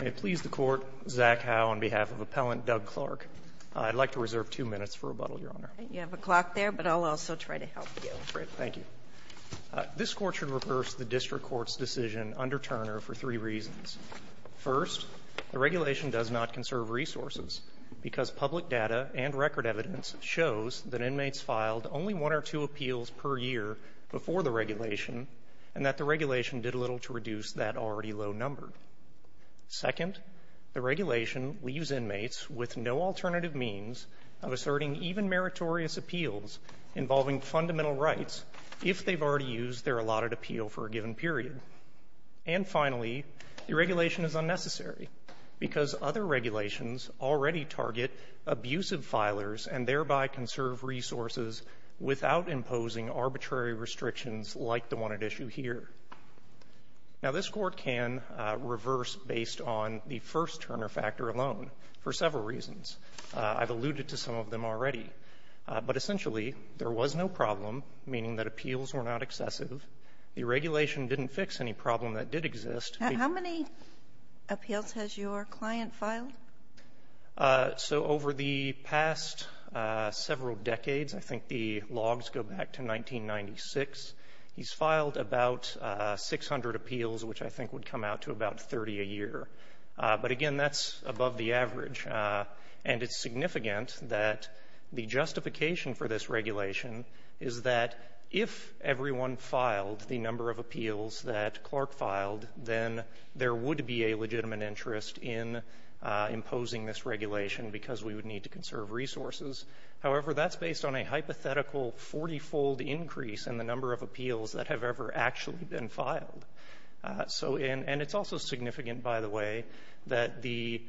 May it please the Court, Zach Howe on behalf of Appellant Doug Clark. I'd like to reserve two minutes for rebuttal, Your Honor. You have a clock there, but I'll also try to help you. Great, thank you. This Court should reverse the District Court's decision under Turner for three reasons. First, the regulation does not conserve resources because public data and record evidence shows that inmates filed only one or two appeals per year before the regulation and that the regulation did little to reduce that already low number. Second, the regulation leaves inmates with no alternative means of asserting even meritorious appeals involving fundamental rights if they've already used their allotted appeal for a given period. And finally, the regulation is unnecessary because other regulations already target abusive filers and thereby conserve resources without imposing arbitrary restrictions like the one at issue here. Now, this Court can reverse based on the first Turner factor alone for several reasons. I've alluded to some of them already. But essentially, there was no problem, meaning that appeals were not excessive. The regulation didn't fix any problem that did exist. How many appeals has your client filed? So over the past several decades, I think the logs go back to 1996, he's filed about 600 appeals, which I think would come out to about 30 a year. But again, that's above the average. And it's significant that the justification for this regulation is that if everyone filed the number of appeals that Clark filed, then there would be a legitimate interest in imposing this regulation because we would need to conserve resources. However, that's based on a hypothetical 40-fold increase in the number of appeals that have ever actually been filed. So in and it's also significant, by the way, that the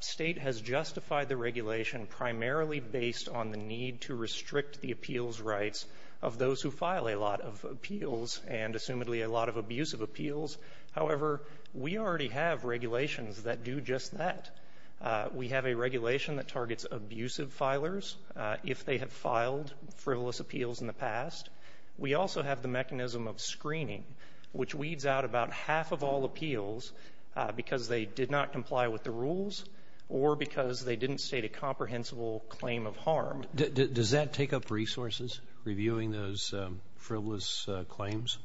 State has justified the regulation primarily based on the need to restrict the appeals rights of those who file a lot of appeals and assumedly a lot of abusive appeals. However, we already have regulations that do just that. We have a regulation that targets abusive filers if they have filed frivolous appeals in the past. We also have the mechanism of screening, which weeds out about Does that take up resources, reviewing those frivolous claims?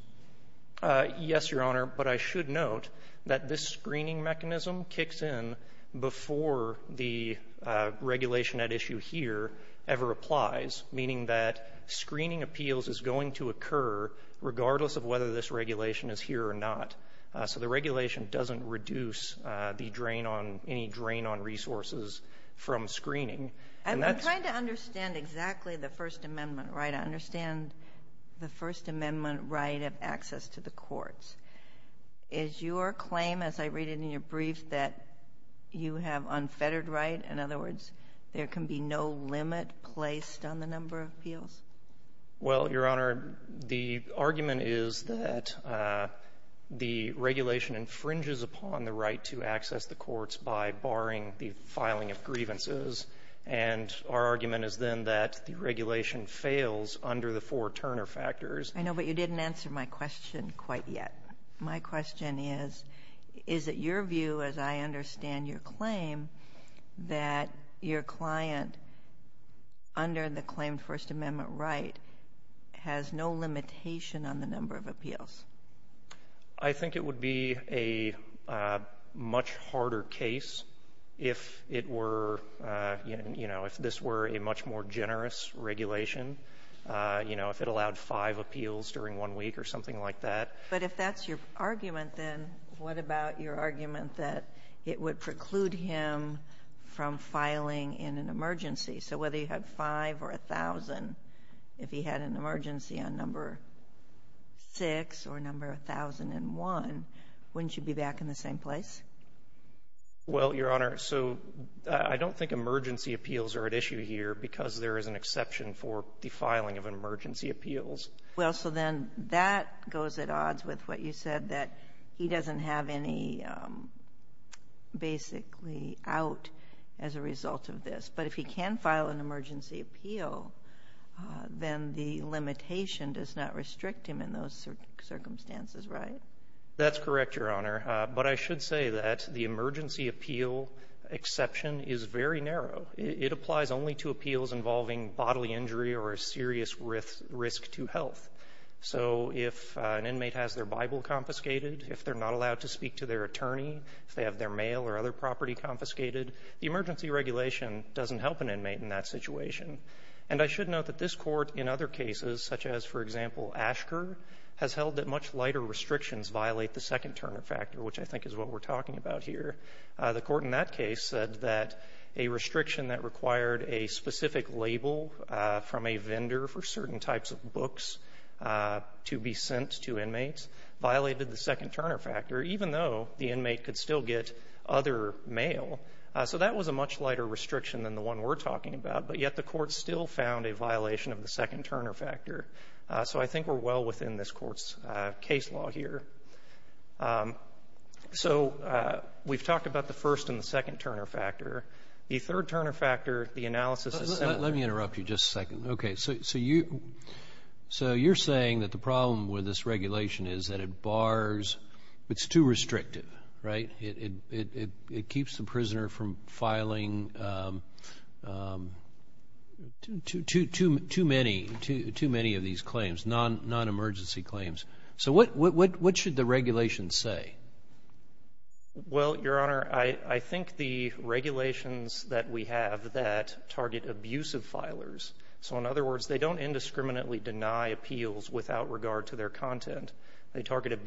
Yes, Your Honor. But I should note that this screening mechanism kicks in before the regulation at issue here ever applies, meaning that screening appeals is going to occur regardless of whether this regulation is here or not. So the regulation doesn't reduce the drain on any drain on resources from screening. And that's I'm trying to understand exactly the First Amendment right. I understand the First Amendment right of access to the courts. Is your claim, as I read it in your brief, that you have unfettered right? In other words, there can be no limit placed on the number of appeals? Well, Your Honor, the argument is that the regulation infringes upon the right to access the courts by barring the filing of grievances. And our argument is then that the regulation fails under the four Turner factors. I know, but you didn't answer my question quite yet. My question is, is it your view, as I understand your claim, that your client, under the claimed First Amendment right, has no limitation on the number of appeals? I think it would be a much harder case if it were, you know, if this were a much more generous regulation, you know, if it allowed five appeals during one week or something like that. But if that's your argument, then what about your argument that it would preclude him from filing in an emergency? So whether you had five or a thousand, if he had an emergency on number six or number 1,001, wouldn't you be back in the same place? Well, Your Honor, so I don't think emergency appeals are at issue here because there is an exception for the filing of emergency appeals. Well, so then that goes at odds with what you said, that he doesn't have any basically out as a result of this. But if he can file an emergency appeal, then the limitation does not restrict him in those circumstances, right? That's correct, Your Honor. But I should say that the emergency appeal exception is very narrow. It applies only to appeals involving bodily injury or a serious risk to health. So if an inmate has their Bible confiscated, if they're not allowed to speak to their the emergency regulation doesn't help an inmate in that situation. And I should note that this Court in other cases, such as, for example, Ashker, has held that much lighter restrictions violate the second-turner factor, which I think is what we're talking about here. The Court in that case said that a restriction that required a specific label from a vendor for certain types of books to be sent to inmates violated the second-turner factor, even though the inmate could still get other mail. So that was a much lighter restriction than the one we're talking about. But yet the Court still found a violation of the second-turner factor. So I think we're well within this Court's case law here. So we've talked about the first and the second-turner factor. The third-turner factor, the analysis is separate. Let me interrupt you just a second. Okay. So you're saying that the problem with this regulation is that it bars. It's too restrictive, right? It keeps the prisoner from filing too many of these claims, non-emergency claims. So what should the regulations say? Well, Your Honor, I think the regulations that we have that target abusive filers so, in other words, they don't indiscriminately deny appeals without regard to their They target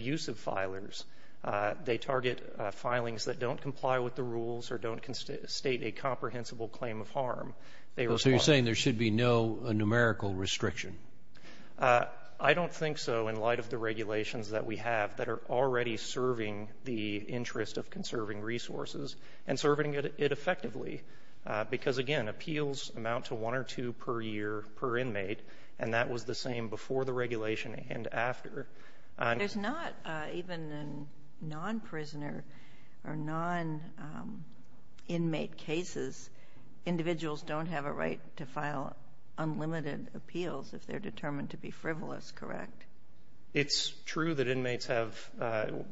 filings that don't comply with the rules or don't state a comprehensible claim of harm. So you're saying there should be no numerical restriction? I don't think so in light of the regulations that we have that are already serving the interest of conserving resources and serving it effectively, because, again, appeals amount to one or two per year per inmate, and that was the same before the regulation and after. There's not even in non-prisoner or non-inmate cases individuals don't have a right to file unlimited appeals if they're determined to be frivolous, correct? It's true that inmates have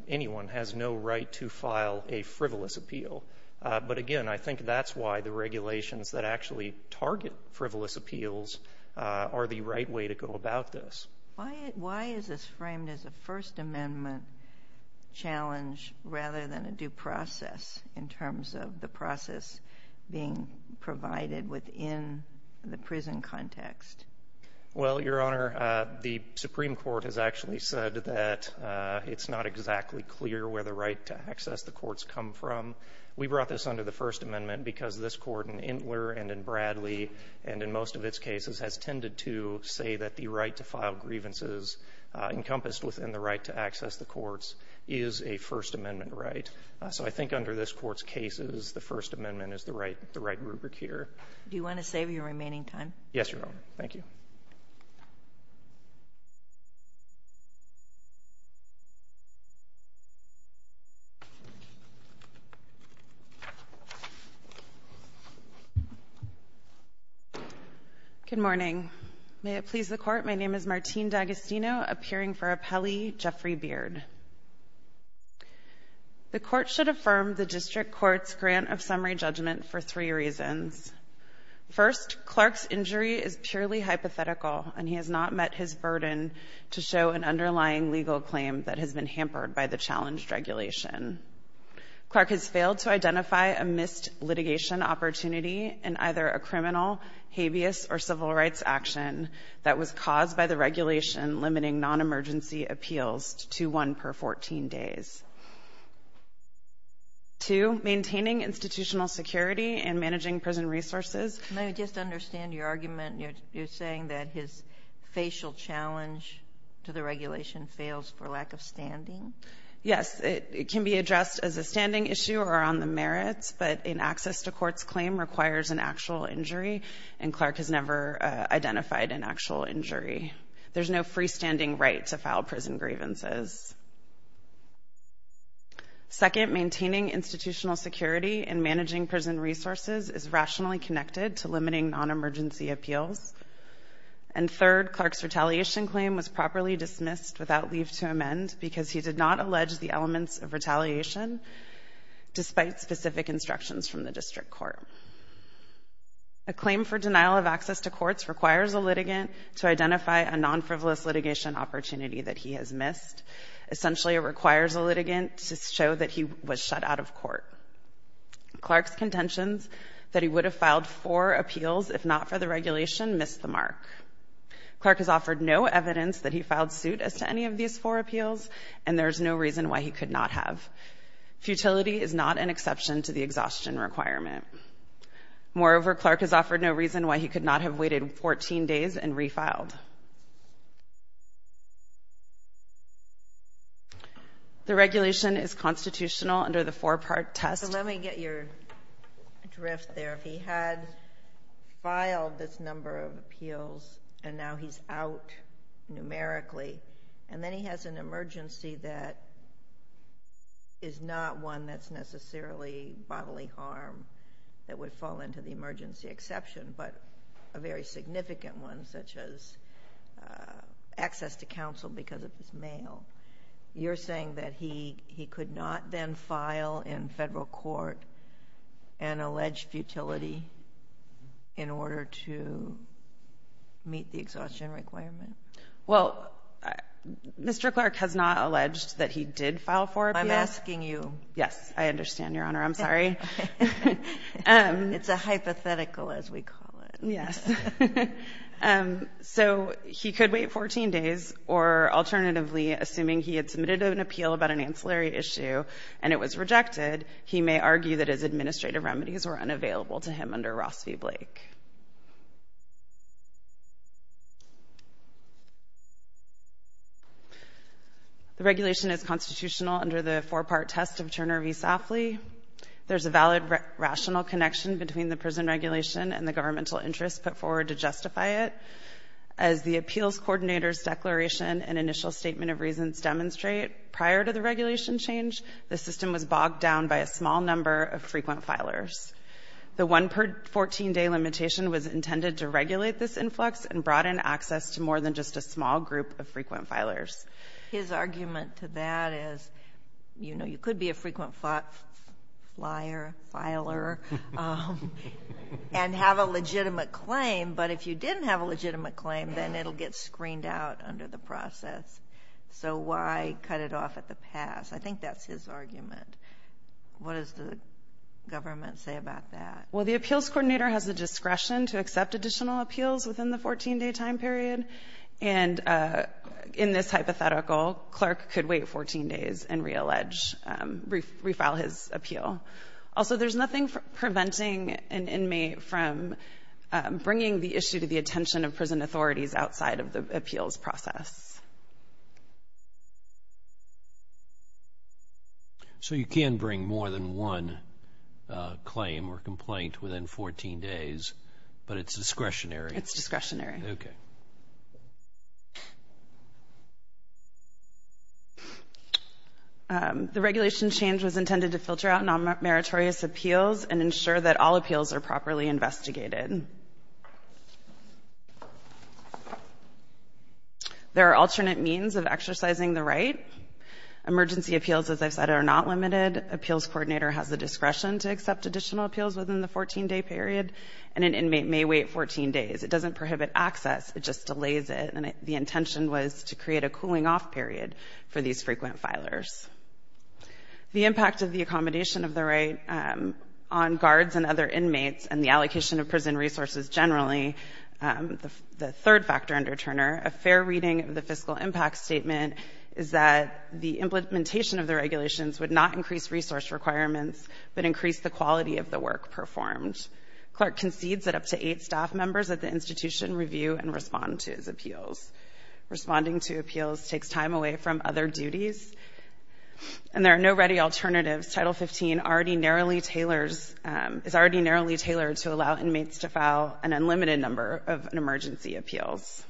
anyone has no right to file a frivolous appeal. But, again, I think that's why the regulations that actually target frivolous appeals are the right way to go about this. Why is this framed as a First Amendment challenge rather than a due process in terms of the process being provided within the prison context? Well, Your Honor, the Supreme Court has actually said that it's not exactly clear where the right to access the courts come from. We brought this under the First Amendment because this Court in Intler and in Bradley and in most of its cases has tended to say that the right to file grievances encompassed within the right to access the courts is a First Amendment right. So I think under this Court's cases, the First Amendment is the right rubric here. Do you want to save your remaining time? Yes, Your Honor. Thank you. Good morning. May it please the Court, my name is Martine D'Agostino, appearing for Appellee Jeffrey Beard. The Court should affirm the district court's grant of summary judgment for three reasons. First, Clark's injury is purely hypothetical, and he has not met his burden to show an underlying legal claim that has been hampered by the challenged regulation. Clark has failed to identify a missed litigation opportunity in either a criminal, habeas, or civil rights action that was caused by the regulation limiting non-emergency appeals to one per 14 days. Two, maintaining institutional security and managing prison resources. Can I just understand your argument? You're saying that his facial challenge to the regulation fails for lack of standing? Yes. It can be addressed as a standing issue or on the merits, but an access-to-courts claim requires an actual injury, and Clark has never identified an actual injury. There's no freestanding right to file prison grievances. Second, maintaining institutional security and managing prison resources is rationally connected to limiting non-emergency appeals. And third, Clark's retaliation claim was properly dismissed without leave to amend because he did not allege the elements of retaliation, despite specific instructions from the district court. A claim for denial of access to courts requires a litigant to identify a non-frivolous litigation opportunity that he has missed. Essentially, it requires a litigant to show that he was shut out of court. Clark's contentions that he would have filed four appeals if not for the regulation missed the mark. Clark has offered no evidence that he filed suit as to any of these four appeals, and there's no reason why he could not have. Futility is not an exception to the exhaustion requirement. Moreover, Clark has offered no reason why he could not have waited 14 days and refiled. The regulation is constitutional under the four-part test. So let me get your drift there. If he had filed this number of appeals and now he's out numerically, and then he has an emergency that is not one that's necessarily bodily harm, that would fall into the emergency exception, but a very significant one, such as access to counsel because of his mail, you're saying that he could not then file in federal court an alleged futility in order to meet the exhaustion requirement? Well, Mr. Clark has not alleged that he did file four appeals. I'm asking you. Yes. I understand, Your Honor. I'm sorry. It's a hypothetical, as we call it. Yes. So he could wait 14 days, or alternatively, assuming he had submitted an appeal The regulation is constitutional under the four-part test of Turner v. Safley. There's a valid rational connection between the prison regulation and the governmental interest put forward to justify it. As the appeals coordinator's declaration and initial statement of reasons demonstrate, prior to the regulation change, the system was bogged down by a small number of frequent filers. The one-per-14-day limitation was intended to regulate this influx and broaden access to more than just a small group of frequent filers. His argument to that is, you know, you could be a frequent flyer, filer, and have a legitimate claim, but if you didn't have a legitimate claim, then it'll get screened out under the process. So why cut it off at the pass? I think that's his argument. What does the government say about that? Well, the appeals coordinator has the discretion to accept additional appeals within the 14-day time period. And in this hypothetical, Clark could wait 14 days and reallege, refile his appeal. Also, there's nothing preventing an inmate from bringing the issue to the attention of prison authorities outside of the appeals process. So you can bring more than one claim or complaint within 14 days, but it's discretionary? It's discretionary. Okay. The regulation change was intended to filter out non-meritorious appeals and ensure that all appeals are properly investigated. There are alternate means of exercising the right. Emergency appeals, as I've said, are not limited. Appeals coordinator has the discretion to accept additional appeals within the 14-day period, and an inmate may wait 14 days. It doesn't prohibit access. It just delays it. And the intention was to create a cooling-off period for these frequent filers. The impact of the accommodation of the right on guards and other inmates and the allocation of prison resources generally, the third factor under Turner, a fair reading of the fiscal impact statement is that the implementation of the regulations would not increase resource requirements, but increase the quality of the work performed. Clark concedes that up to eight staff members at the institution review and respond to his appeals. Responding to appeals takes time away from other duties, and there are no ready alternatives. Title 15 already narrowly tailors — is already narrowly tailored to allow inmates to file an unlimited number of emergency appeals.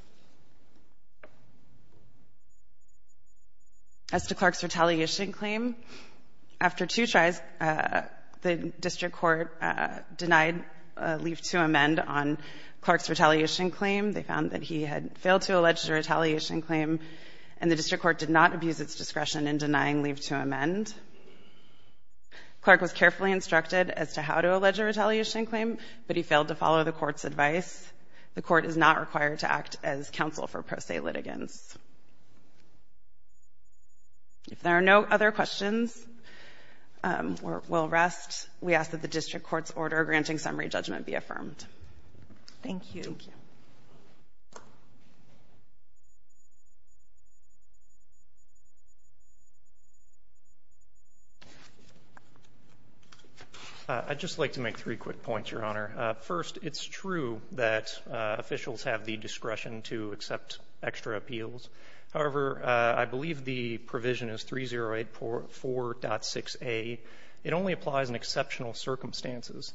As to Clark's retaliation claim, after two tries, the district court denied a leave-to-amend on Clark's retaliation claim. They found that he had failed to allege a retaliation claim, and the district court did not abuse its discretion in denying leave-to-amend. Clark was carefully instructed as to how to allege a retaliation claim, but he failed to follow the court's advice. The court is not required to act as counsel for pro se litigants. If there are no other questions, we'll rest. We ask that the district court's order granting summary judgment be affirmed. Thank you. Thank you. I'd just like to make three quick points, Your Honor. First, it's true that officials have the discretion to accept extra appeals. However, I believe the provision is 3084.6a. It only applies in exceptional circumstances,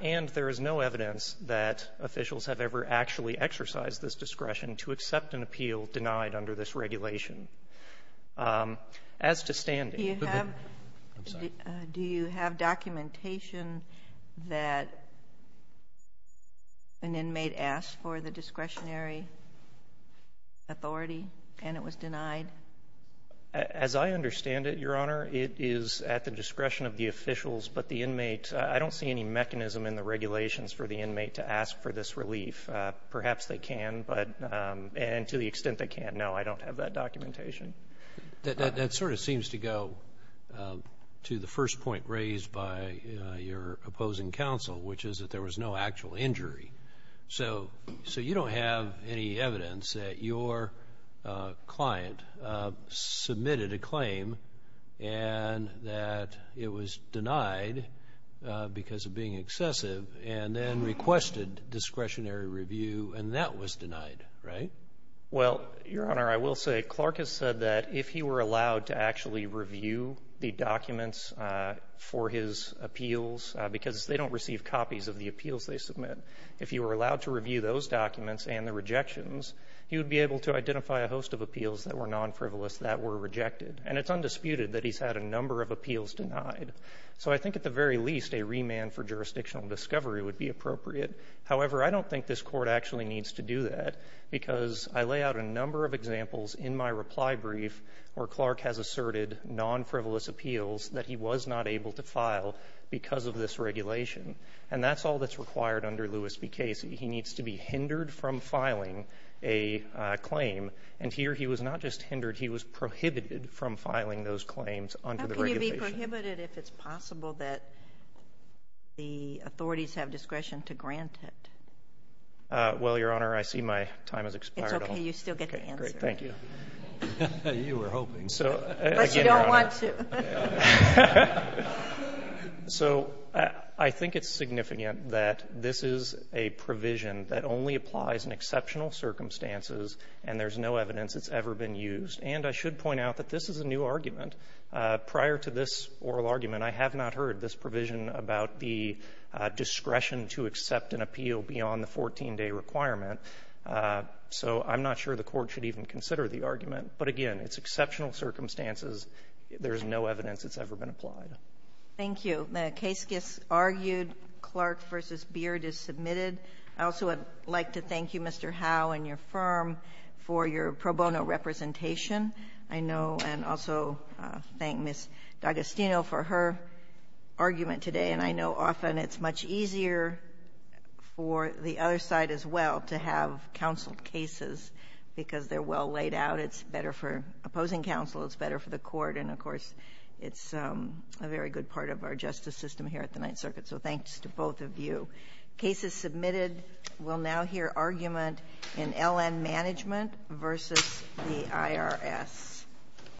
and there is no evidence that officials have ever actually exercised this discretion to accept an appeal denied under this regulation. As to standing --" I'm sorry. Do you have documentation that an inmate asked for the discretionary authority and it was denied? As I understand it, Your Honor, it is at the discretion of the officials, but the inmate --" I don't see any mechanism in the regulations for the inmate to ask for this relief. Perhaps they can, but to the extent they can't, no, I don't have that documentation. That sort of seems to go to the first point raised by your opposing counsel, which is that there was no actual injury. So you don't have any evidence that your client submitted a claim and that it was denied because of being excessive and then requested discretionary review and that was denied, right? Well, Your Honor, I will say Clark has said that if he were allowed to actually review the documents for his appeals, because they don't receive copies of the appeals they submit, if he were allowed to review those documents and the rejections, he would be able to identify a host of appeals that were non-frivolous that were rejected. And it's undisputed that he's had a number of appeals denied. So I think at the very least, a remand for jurisdictional discovery would be appropriate. However, I don't think this Court actually needs to do that because I lay out a number of examples in my reply brief where Clark has asserted non-frivolous appeals that he was not able to file because of this regulation. And that's all that's required under Lewis v. Casey. He needs to be hindered from filing a claim. And here he was not just hindered, he was prohibited from filing those claims under the regulation. Sotomayor, it's prohibited if it's possible that the authorities have discretion to grant it. Well, Your Honor, I see my time has expired. It's okay. You still get the answer. Okay. Thank you. You were hoping. So, again, Your Honor. But you don't want to. So I think it's significant that this is a provision that only applies in exceptional circumstances, and there's no evidence it's ever been used. And I should point out that this is a new argument. Prior to this oral argument, I have not heard this provision about the discretion to accept an appeal beyond the 14-day requirement. So I'm not sure the Court should even consider the argument. But, again, it's exceptional circumstances. There's no evidence it's ever been applied. Thank you. The case gets argued. Clark v. Beard is submitted. I also would like to thank you, Mr. Howe, and your firm for your pro bono representation. I know and also thank Ms. D'Agostino for her argument today. And I know often it's much easier for the other side as well to have counseled cases because they're well laid out. It's better for opposing counsel. It's better for the Court. And, of course, it's a very good part of our justice system here at the Ninth Circuit. So thanks to both of you. Case is submitted. We'll now hear argument in L.N. Management v. the IRS.